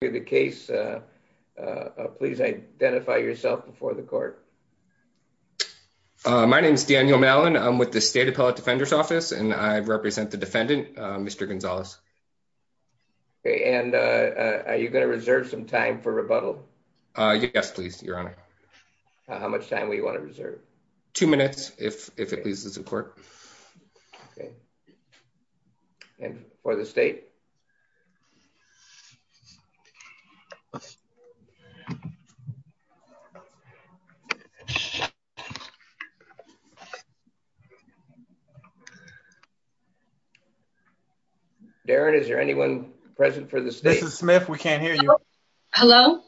the case. Please identify yourself before the court. My name is Daniel Mellon. I'm with the State Appellate Defender's Office, and I represent the defendant, Mr. Gonzalez. Okay, and are you going to reserve some time for rebuttal? Yes, please, Your Honor. How much time will you want to reserve? Two minutes, if it pleases the court. Okay. And for the state? Two minutes. Darren, is there anyone present for the state? This is Smith. We can't hear you. Hello?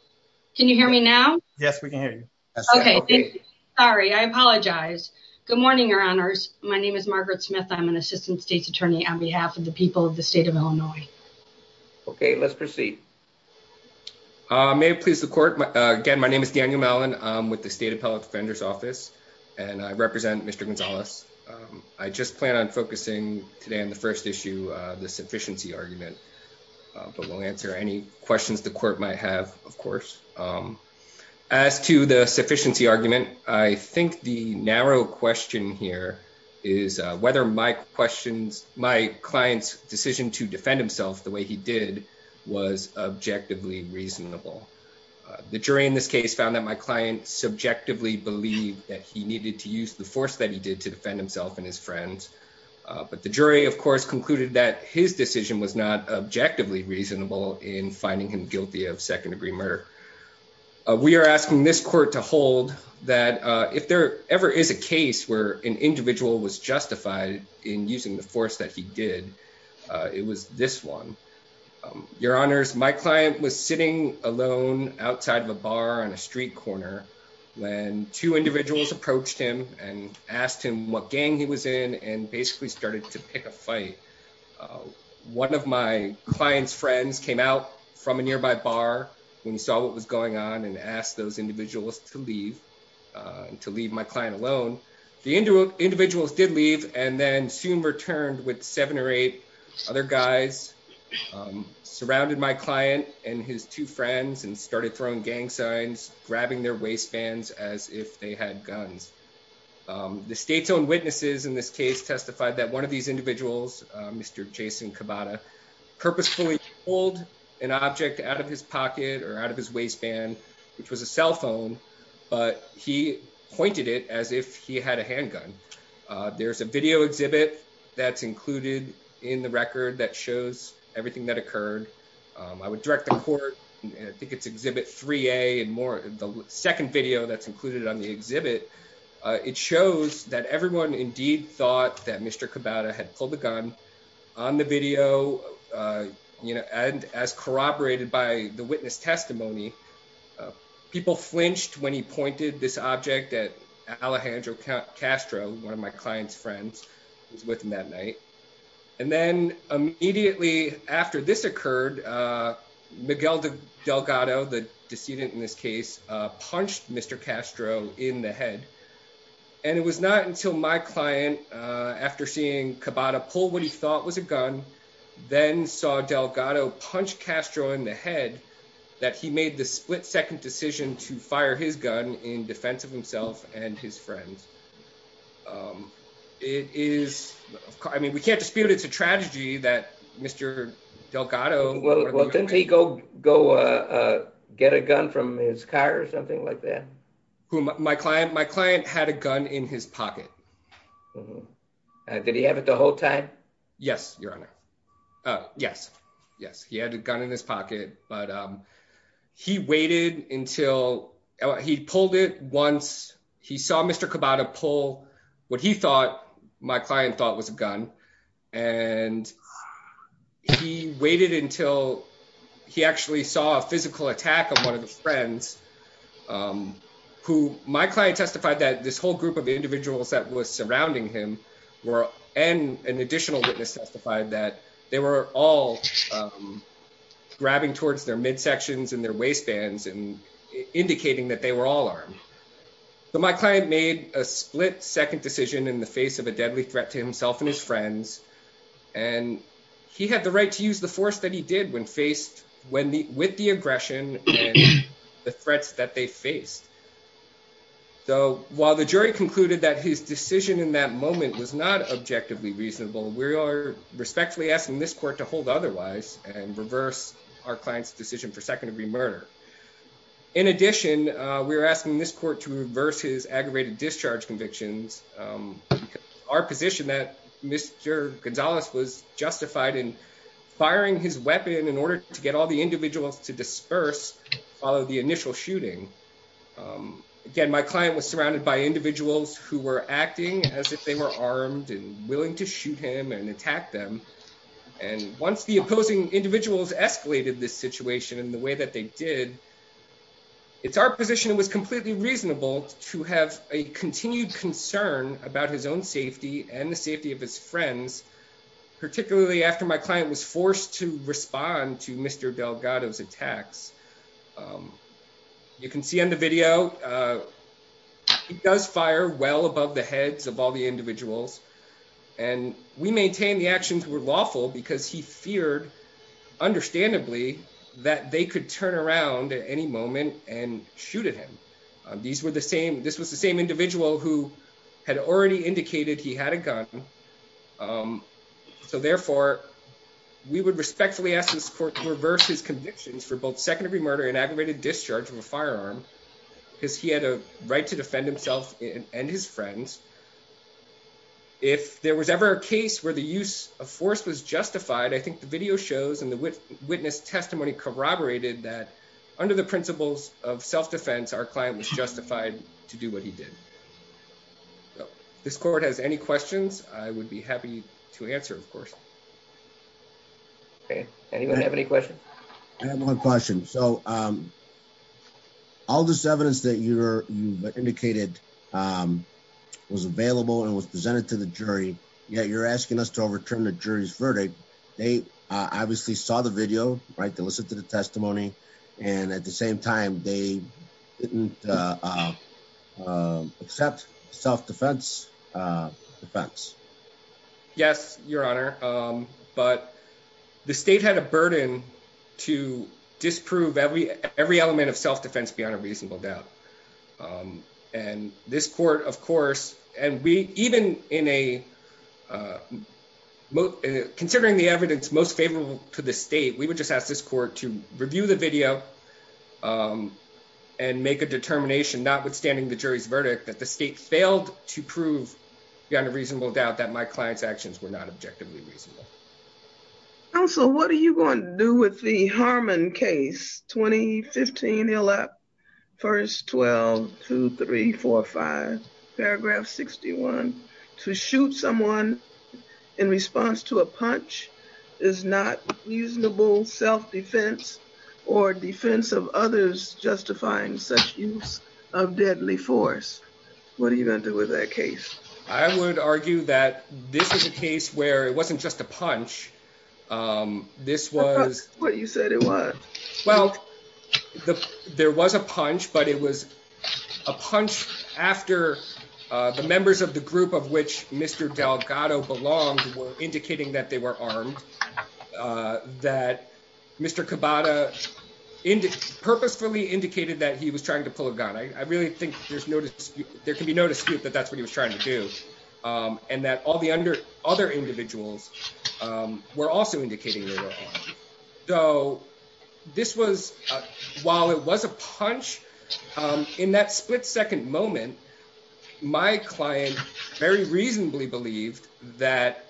Can you hear me now? Yes, we can hear you. Okay. Sorry, I apologize. Good morning, Your Honors. My name is Margaret Smith. I'm an Assistant State's Attorney on behalf of the people of the state of Illinois. Okay, let's proceed. May it please the court. Again, my name is Daniel Mellon. I'm with the State Appellate Defender's Office, and I represent Mr. Gonzalez. I just plan on focusing today on the first issue, the sufficiency argument, but we'll answer any questions the court might have, of course. As to the sufficiency argument, I think the narrow question here is whether my client's to defend himself the way he did was objectively reasonable. The jury in this case found that my client subjectively believed that he needed to use the force that he did to defend himself and his friends, but the jury, of course, concluded that his decision was not objectively reasonable in finding him guilty of second-degree murder. We are asking this court to hold that if there ever is a case where an individual was justified in using the force that he did, it was this one. Your Honors, my client was sitting alone outside of a bar on a street corner when two individuals approached him and asked him what gang he was in and basically started to pick a fight. One of my client's friends came out from a nearby bar when he saw what was going on and asked those individuals to leave, to leave my client alone. The individuals did leave and then soon returned with seven or eight other guys, surrounded my client and his two friends, and started throwing gang signs, grabbing their waistbands as if they had guns. The state's own witnesses in this case testified that one of these individuals, Mr. Jason Kabata, purposefully pulled an object out of his pocket or out of his waistband which was a cell phone, but he pointed it as if he had a handgun. There's a video exhibit that's included in the record that shows everything that occurred. I would direct the court, I think it's exhibit 3A and more, the second video that's included on the exhibit, it shows that everyone indeed thought that Mr. Kabata had pulled the gun on the video, you know, and as corroborated by the witness testimony, people flinched when he pointed this object at Alejandro Castro, one of my client's friends, who was with him that night. And then immediately after this occurred, Miguel Delgado, the decedent in this case, punched Mr. Castro in the head. And it was not until my client, after seeing Kabata pull what he thought was a gun, then saw Delgado punch Castro in the head that he made the split-second decision to fire his gun in defense of himself and his friends. It is, I mean, we can't dispute it's a tragedy that Mr. Delgado... Well, didn't he go get a gun from his car or something like that? My client had a gun in his pocket. Mm-hmm. Did he have it the whole time? Yes, Your Honor. Yes, yes, he had a gun in his pocket, but he waited until... He pulled it once, he saw Mr. Kabata pull what he thought, my client thought was a gun, and he waited until he actually saw a physical attack of one of the surrounding him, and an additional witness testified that they were all grabbing towards their midsections and their waistbands and indicating that they were all armed. So my client made a split-second decision in the face of a deadly threat to himself and his friends, and he had the right to use the force that he did with the aggression and the threats that they in that moment was not objectively reasonable. We are respectfully asking this court to hold otherwise and reverse our client's decision for second-degree murder. In addition, we are asking this court to reverse his aggravated discharge convictions. Our position that Mr. Gonzalez was justified in firing his weapon in order to get all the individuals to disperse followed the initial shooting. Again, my client was surrounded by individuals who were acting as if they were armed and willing to shoot him and attack them, and once the opposing individuals escalated this situation in the way that they did, it's our position it was completely reasonable to have a continued concern about his own safety and the safety of his friends, particularly after my client was forced to respond to Mr. Delgado's attacks. You can see on the video, he does fire well above the heads of all the individuals, and we maintain the actions were lawful because he feared, understandably, that they could turn around at any moment and shoot at him. This was the same individual who had already indicated he had a gun, so therefore, we would respectfully ask this court to reverse his convictions for both second-degree murder and aggravated discharge of a firearm because he had a right to defend himself and his friends. If there was ever a case where the use of force was justified, I think the video shows and the witness testimony corroborated that under the principles of self-defense, our client was justified to do what he did. If this court has any questions, I would be happy to answer, of course. Okay, anyone have any questions? I have one question. So, all this evidence that you've indicated was available and was presented to the jury, yet you're asking us to overturn the jury's verdict. They obviously saw the video, right, they listened to the testimony, and at the same time, they didn't accept self-defense defense. Yes, your honor, but the state had a burden to disprove every element of self-defense beyond a reasonable doubt, and this court, of course, and we even in a, considering the evidence most favorable to the state, we would just ask this court to review the video and make a determination, notwithstanding the jury's verdict, that the state failed to prove beyond a reasonable doubt that my client's actions were not objectively reasonable. Counsel, what are you going to do with the Harmon case, 2015, first 12, 2, 3, 4, 5, paragraph 61, to shoot someone in response to a punch is not reasonable self-defense or defense of others justifying such use of deadly force. What are you going to do with that case? I would argue that this is a case where it wasn't just a Well, there was a punch, but it was a punch after the members of the group of which Mr. Delgado belonged were indicating that they were armed, that Mr. Cabada purposefully indicated that he was trying to pull a gun. I really think there's no dispute, there can be no dispute that that's what he was trying to do, and that all the other individuals were also indicating they were. So this was while it was a punch in that split second moment, my client very reasonably believed that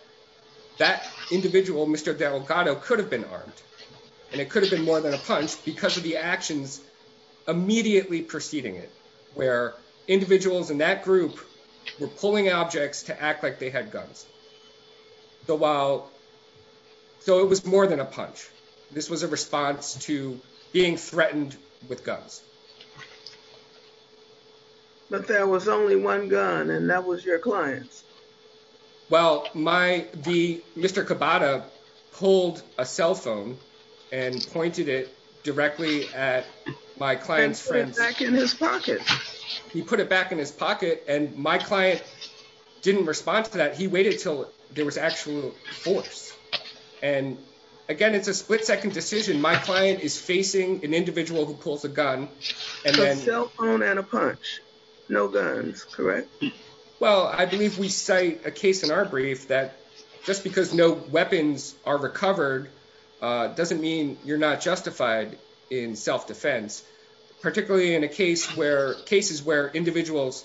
that individual Mr. Delgado could have been armed and it could have been more than a punch because of the actions immediately preceding it, where individuals in that group were pulling objects to act like they had guns. So it was more than a punch, this was a response to being threatened with guns. But there was only one gun and that was your client's. Well, Mr. Cabada pulled a cell phone and pointed it directly at my client's friends. And put it back in his pocket. He put it back in his pocket and my client didn't respond to that, he waited till there was actual force. And again, it's a split second decision, my client is facing an individual who pulls a gun. A cell phone and a punch, no guns, correct? Well, I believe we cite a case in our brief that just because no weapons are recovered doesn't mean you're not justified in self-defense, particularly in cases where individuals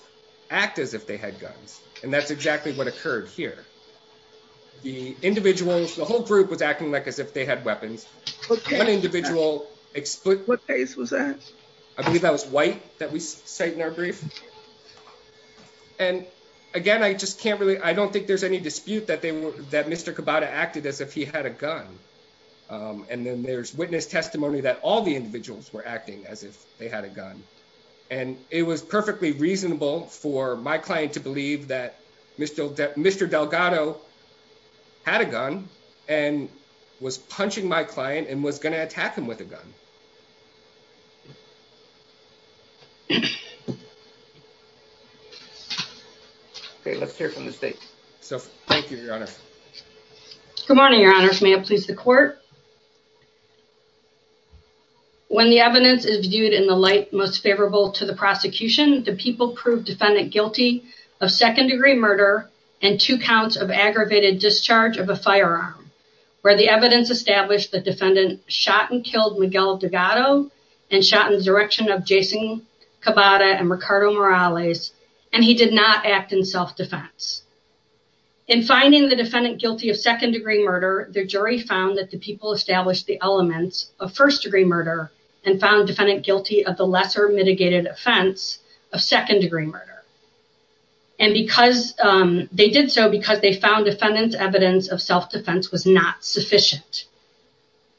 act as if they had guns. And that's exactly what occurred here. The individuals, the whole group was acting like as if they had weapons. What case was that? I believe that was White that we cite in our brief. And again, I just can't really, I don't think there's any dispute that Mr. Cabada acted as if he had a gun. And then there's witness testimony that all the individuals were acting as if they had a gun. And it was perfectly reasonable for my client to believe that Mr. Delgado had a gun and was punching my client and was going to attack him with a gun. Okay, let's hear from the state. Thank you, Your Honor. Good morning, Your Honor. May it please the court. When the evidence is viewed in the light most favorable to the prosecution, do people prove defendant guilty of second-degree murder and two counts of aggravated discharge of a firearm? Where the evidence established the defendant shot and killed Miguel Delgado and shot in the direction of Jason Cabada and Ricardo Morales, and he did not act in self-defense. In finding the defendant guilty of second-degree murder, the jury found that the people established the elements of first-degree murder and found defendant guilty of the lesser mitigated offense of second-degree murder. And they did so because they found defendant's evidence of self-defense was not sufficient.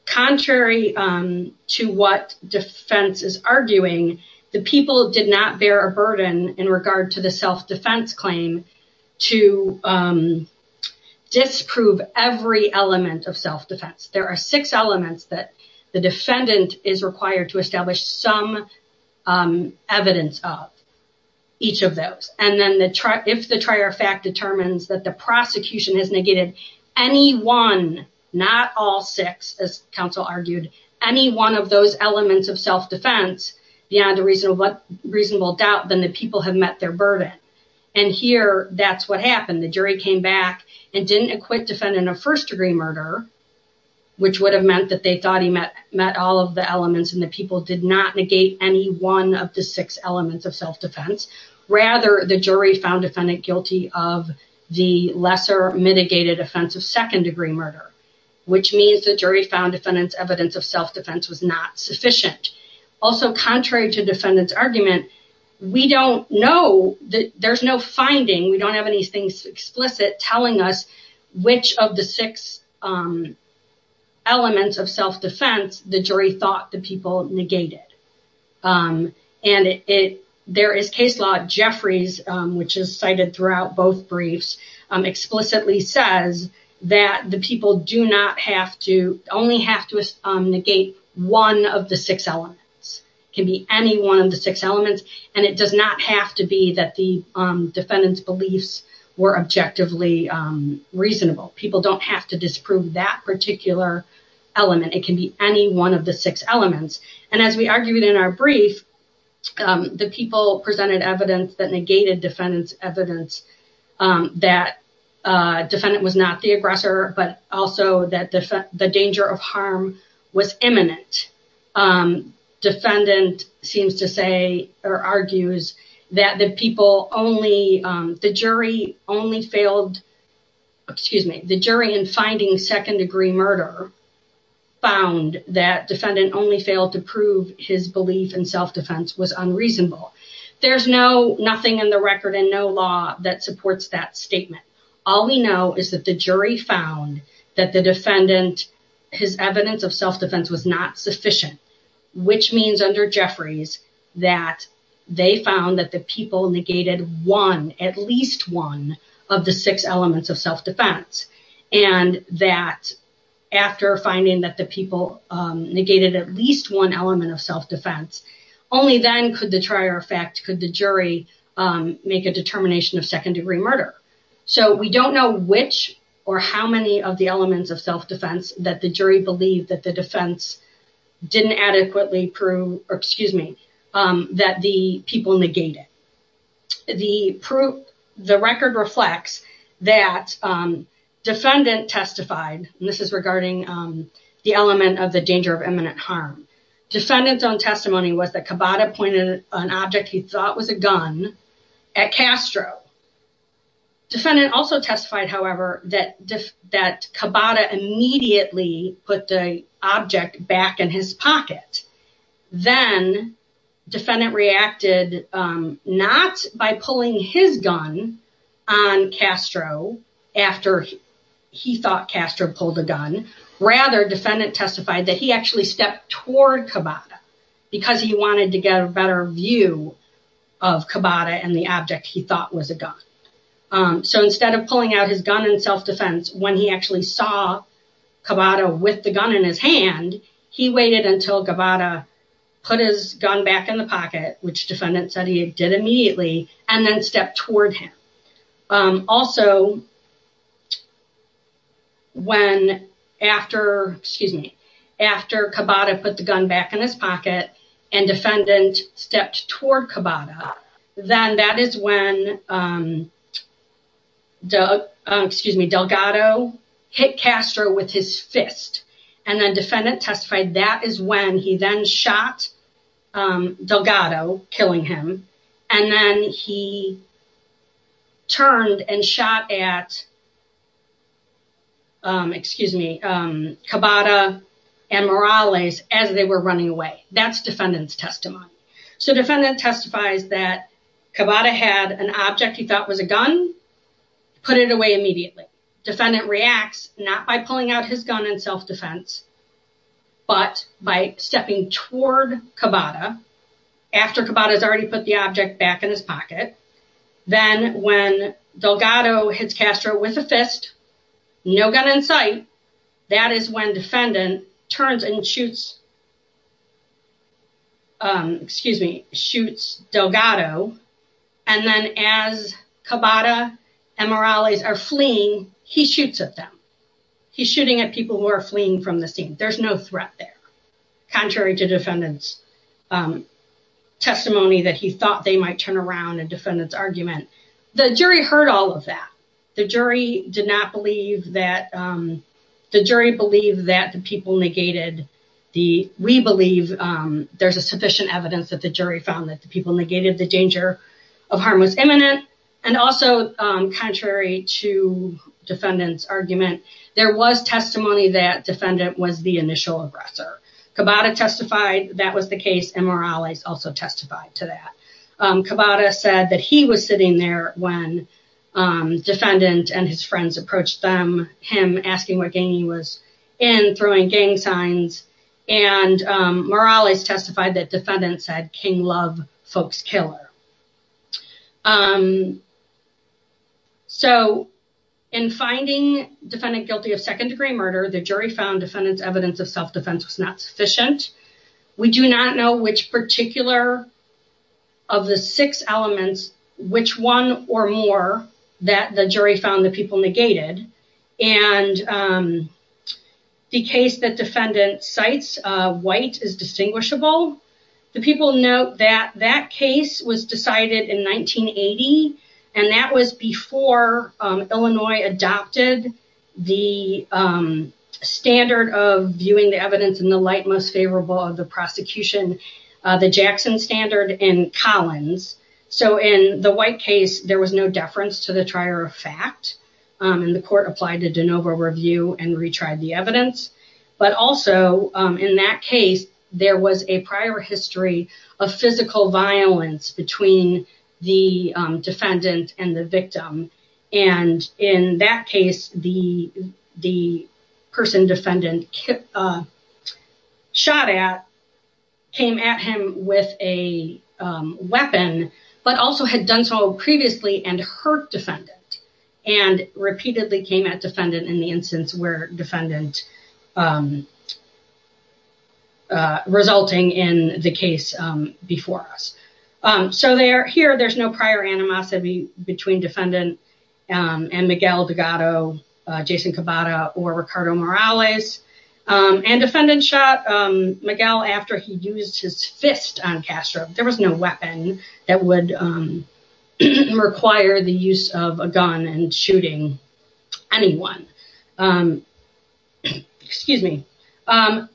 Contrary to what defense is arguing, the people did not bear a burden in regard to the self-defense claim to disprove every element of self-defense. There are six elements that the defendant is required to establish some evidence of, each of those. And then if the trier fact determines that the prosecution has negated any one, not all six, as counsel argued, any one of those elements of self-defense beyond a reasonable doubt, then the people have met their burden. And here, that's what happened. The jury came back and didn't acquit defendant of first-degree murder, which would have meant that they thought he met all of the elements and the people did not negate any one of the six elements of self-defense. Rather, the jury found defendant guilty of the lesser mitigated offense of second-degree murder, which means the jury found defendant's evidence of self-defense was not sufficient. Also, contrary to defendant's argument, we don't know, there's no finding, we don't have any things explicit telling us which of the six elements of self-defense the jury thought the people negated. And there is case law, Jeffrey's, which is cited throughout both briefs, explicitly says that the people do not have to, only have to negate one of the six elements. It can be any one of the six elements, and it does not have to be that the defendant's beliefs were objectively reasonable. People don't have to disprove that particular element. It can be any one of the six elements. And as we argued in our brief, the people presented evidence that negated defendant's evidence that defendant was not the aggressor, but also that the danger of harm was imminent. Defendant seems to say or argues that the people only, the jury only failed, excuse me, the jury in finding second-degree murder found that defendant only failed to prove his belief in self-defense was unreasonable. There's no, nothing in the record and no law that supports that statement. All we know is that the jury found that the defendant, his evidence of self-defense was not sufficient, which means under Jeffrey's that they found that the people negated one, at least one of the six elements of self-defense. And that after finding that the people negated at least one element of self-defense only then could the trier of fact, could the jury make a determination of second-degree murder. So we don't know which or how many of the elements of self-defense that the jury believed that the defense didn't adequately prove, or excuse me, that the people negated. The proof, the record reflects that defendant testified, and this is regarding the element of the danger of imminent harm. Defendant's own testimony was that Cabada pointed an object he thought was a gun at Castro. Defendant also testified, however, that Cabada immediately put the object back in his pocket. Then defendant reacted not by pulling his gun on Castro after he thought Castro pulled a gun, rather defendant testified that he actually stepped toward Cabada because he wanted to get a view of Cabada and the object he thought was a gun. So instead of pulling out his gun in self-defense when he actually saw Cabada with the gun in his hand, he waited until Cabada put his gun back in the pocket, which defendant said he did immediately, and then stepped toward him. Also when after, excuse me, after Cabada put the gun back in his pocket and defendant stepped toward Cabada, then that is when Delgado hit Castro with his fist, and then defendant testified that is when he then shot Delgado, killing him, and then he turned and shot at Cabada and Morales as they were running away. That's defendant's testimony. So defendant testifies that Cabada had an object he thought was a gun, put it away immediately. Defendant reacts not by pulling out his gun in toward Cabada after Cabada has already put the object back in his pocket, then when Delgado hits Castro with a fist, no gun in sight, that is when defendant turns and shoots, excuse me, shoots Delgado, and then as Cabada and Morales are fleeing, he shoots at them. He's shooting at people who are fleeing from the scene. There's no threat there, contrary to defendant's testimony that he thought they might turn around in defendant's argument. The jury heard all of that. The jury did not believe that, the jury believed that the people negated the, we believe there's a sufficient evidence that the jury found that the people and also contrary to defendant's argument, there was testimony that defendant was the initial aggressor. Cabada testified that was the case and Morales also testified to that. Cabada said that he was sitting there when defendant and his friends approached them, him asking what gang he was in, throwing gang signs, and Morales testified that defendant said gang love folks killer. So in finding defendant guilty of second degree murder, the jury found defendant's evidence of self-defense was not sufficient. We do not know which particular of the six elements, which one or more that the jury found the people negated, and the case that defendant cites, white, is distinguishable. The people note that that case was decided in 1980, and that was before Illinois adopted the standard of viewing the evidence in the light most favorable of the prosecution, the Jackson standard and Collins. So in the white case, there was no deference to the trier of fact, and the court applied to de novo review and retried the evidence. But also in that case, there was a prior history of physical violence between the defendant and the victim. And in that case, the person defendant was shot at, came at him with a weapon, but also had done so previously and hurt defendant, and repeatedly came at defendant in the instance where defendant resulting in the case before us. So here, there's no prior animosity between defendant and Miguel Dugato, Jason Cabada, or Ricardo Morales. And defendant shot Miguel after he used his fist on Castro. There was no weapon that would require the use of a gun and shooting anyone. Excuse me.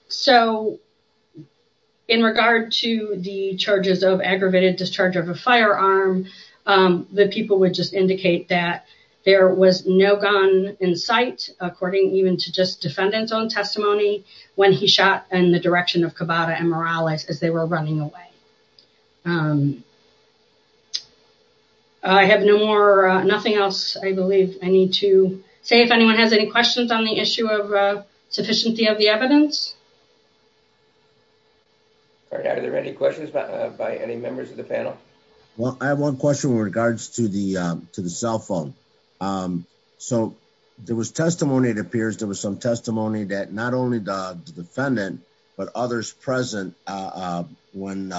So in regard to the charges of aggravated discharge of a firearm, the people would just indicate that there was no gun in sight, according even to just defendant's own testimony when he shot in the direction of Cabada and Morales as they were running away. I have no more, nothing else, I believe I need to say if anyone has any questions on the issue of sufficiency of the evidence. Are there any questions by any members of the panel? Well, I have one question in regards to the cell phone. So there was testimony, it appears there was some testimony that not only the defendant, but others present when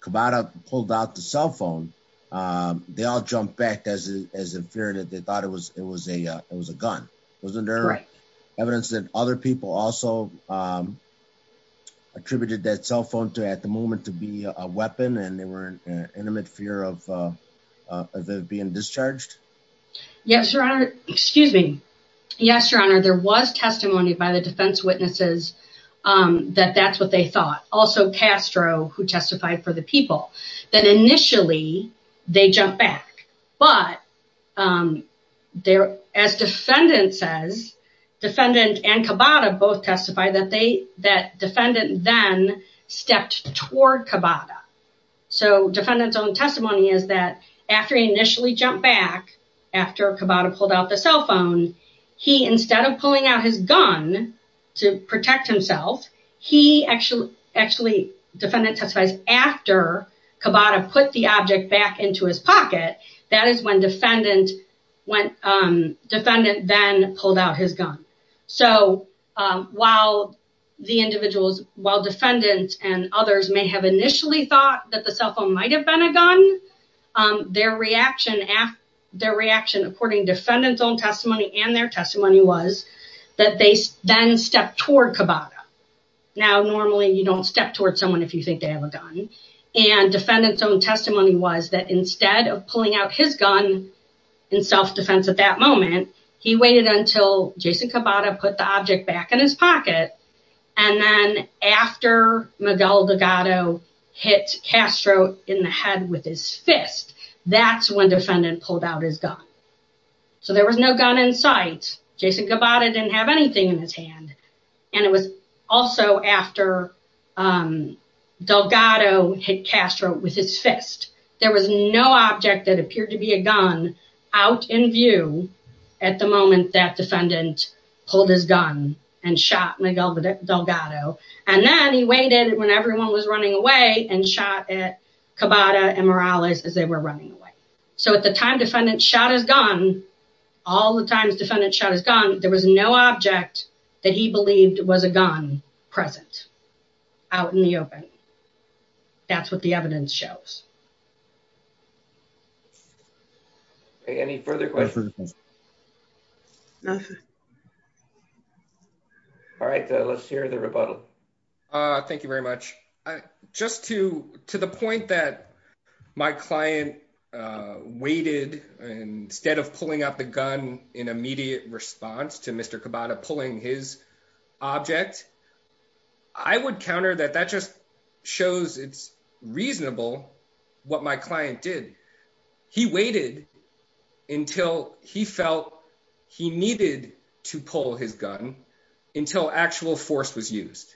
Cabada pulled out the cell phone, they all jumped back as a fear that they thought it was a gun. Wasn't there evidence that other people also attributed that cell phone to at the moment to be a weapon and intimate fear of being discharged? Yes, Your Honor. Excuse me. Yes, Your Honor. There was testimony by the defense witnesses that that's what they thought. Also Castro who testified for the people that initially they jumped back. But as defendant says, defendant and Cabada both defendant's own testimony is that after he initially jumped back, after Cabada pulled out the cell phone, he instead of pulling out his gun to protect himself, he actually, defendant testifies after Cabada put the object back into his pocket. That is when defendant then pulled out his gun. So while the individuals, while defendant and others may have initially thought that the cell phone might've been a gun, their reaction according to defendant's own testimony and their testimony was that they then stepped toward Cabada. Now, normally you don't step toward someone if you think they have a gun. And defendant's own testimony was that instead of pulling out his gun in self-defense at that moment, he waited until Jason Cabada put the object back in his pocket. And then after Miguel Delgado hit Castro in the head with his fist, that's when defendant pulled out his gun. So there was no gun in sight. Jason Cabada didn't have anything in his hand. And it was also after Delgado hit Castro with his fist. There was no object that appeared to be a gun out in view at the moment that defendant pulled his gun and shot Miguel Delgado. And then he waited when everyone was running away and shot at Cabada and Morales as they were running away. So at the time defendant shot his gun, all the times defendant shot his gun, there was no object that he believed was a gun present out in the open. That's what the evidence shows. Any further questions? Nothing. All right, let's hear the rebuttal. Thank you very much. Just to the point that my client waited instead of pulling out the gun in immediate response to what my client did. He waited until he felt he needed to pull his gun until actual force was used.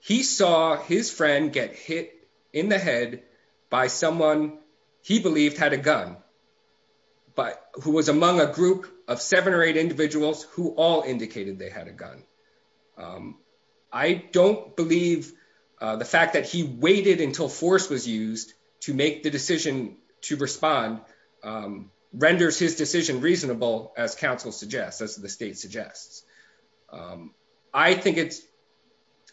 He saw his friend get hit in the head by someone he believed had a gun, but who was among a group of seven or eight individuals who all indicated they had a gun. I don't believe the fact that he waited until force was used to make the decision to respond renders his decision reasonable as counsel suggests, as the state suggests. I think it's,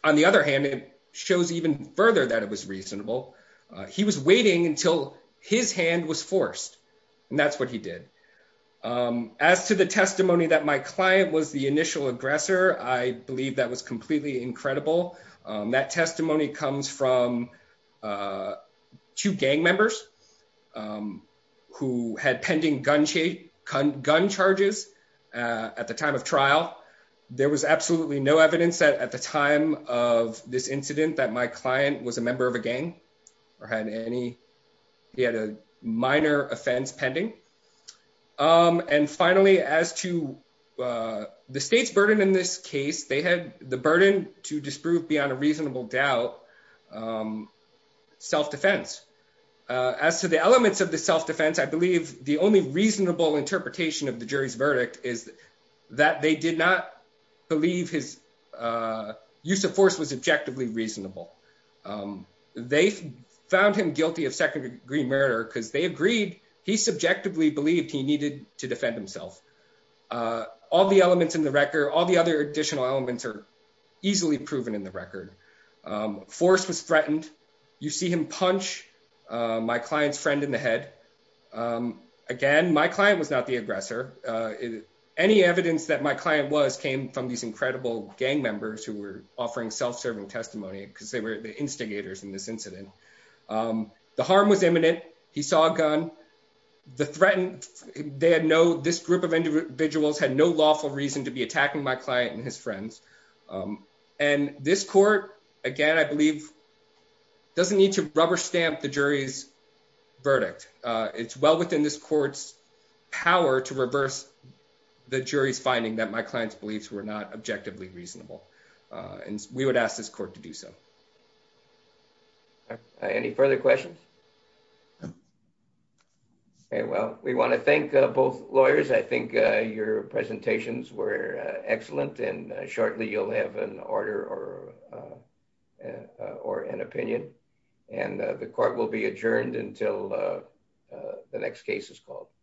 on the other hand, it shows even further that it was reasonable. He was waiting until his hand was forced and that's what he did. As to the testimony that my client was the initial aggressor, I believe that was completely incredible. That testimony comes from two gang members who had pending gun charges at the time of trial. There was absolutely no evidence that at the time of this incident that my client was a member of a gang or had any, he had a minor offense pending. And finally, as to the state's burden in this case, they had the burden to disprove beyond a reasonable doubt self-defense. As to the elements of the self-defense, I believe the only reasonable interpretation of the jury's verdict is that they did not believe his use of force was objectively reasonable. They found him guilty of second-degree murder because they agreed he subjectively believed he needed to defend himself. All the elements in the record, all the other additional elements are easily proven in the record. Force was threatened. You see him punch my client's friend in the head. Again, my client was not the aggressor. Any evidence that my client was came from these incredible gang members who were offering self-serving testimony because they were the instigators in this incident. The harm was imminent. He saw a gun. The threatened, they had no, this group of individuals had no lawful reason to be attacking my client and his friends. And this court, again, I believe doesn't need to rubber stamp the jury's verdict. It's well in this court's power to reverse the jury's finding that my client's beliefs were not objectively reasonable. And we would ask this court to do so. Any further questions? Okay, well, we want to thank both lawyers. I think your presentations were excellent and shortly you'll have an order or an opinion. And the court will be adjourned until the next case is called.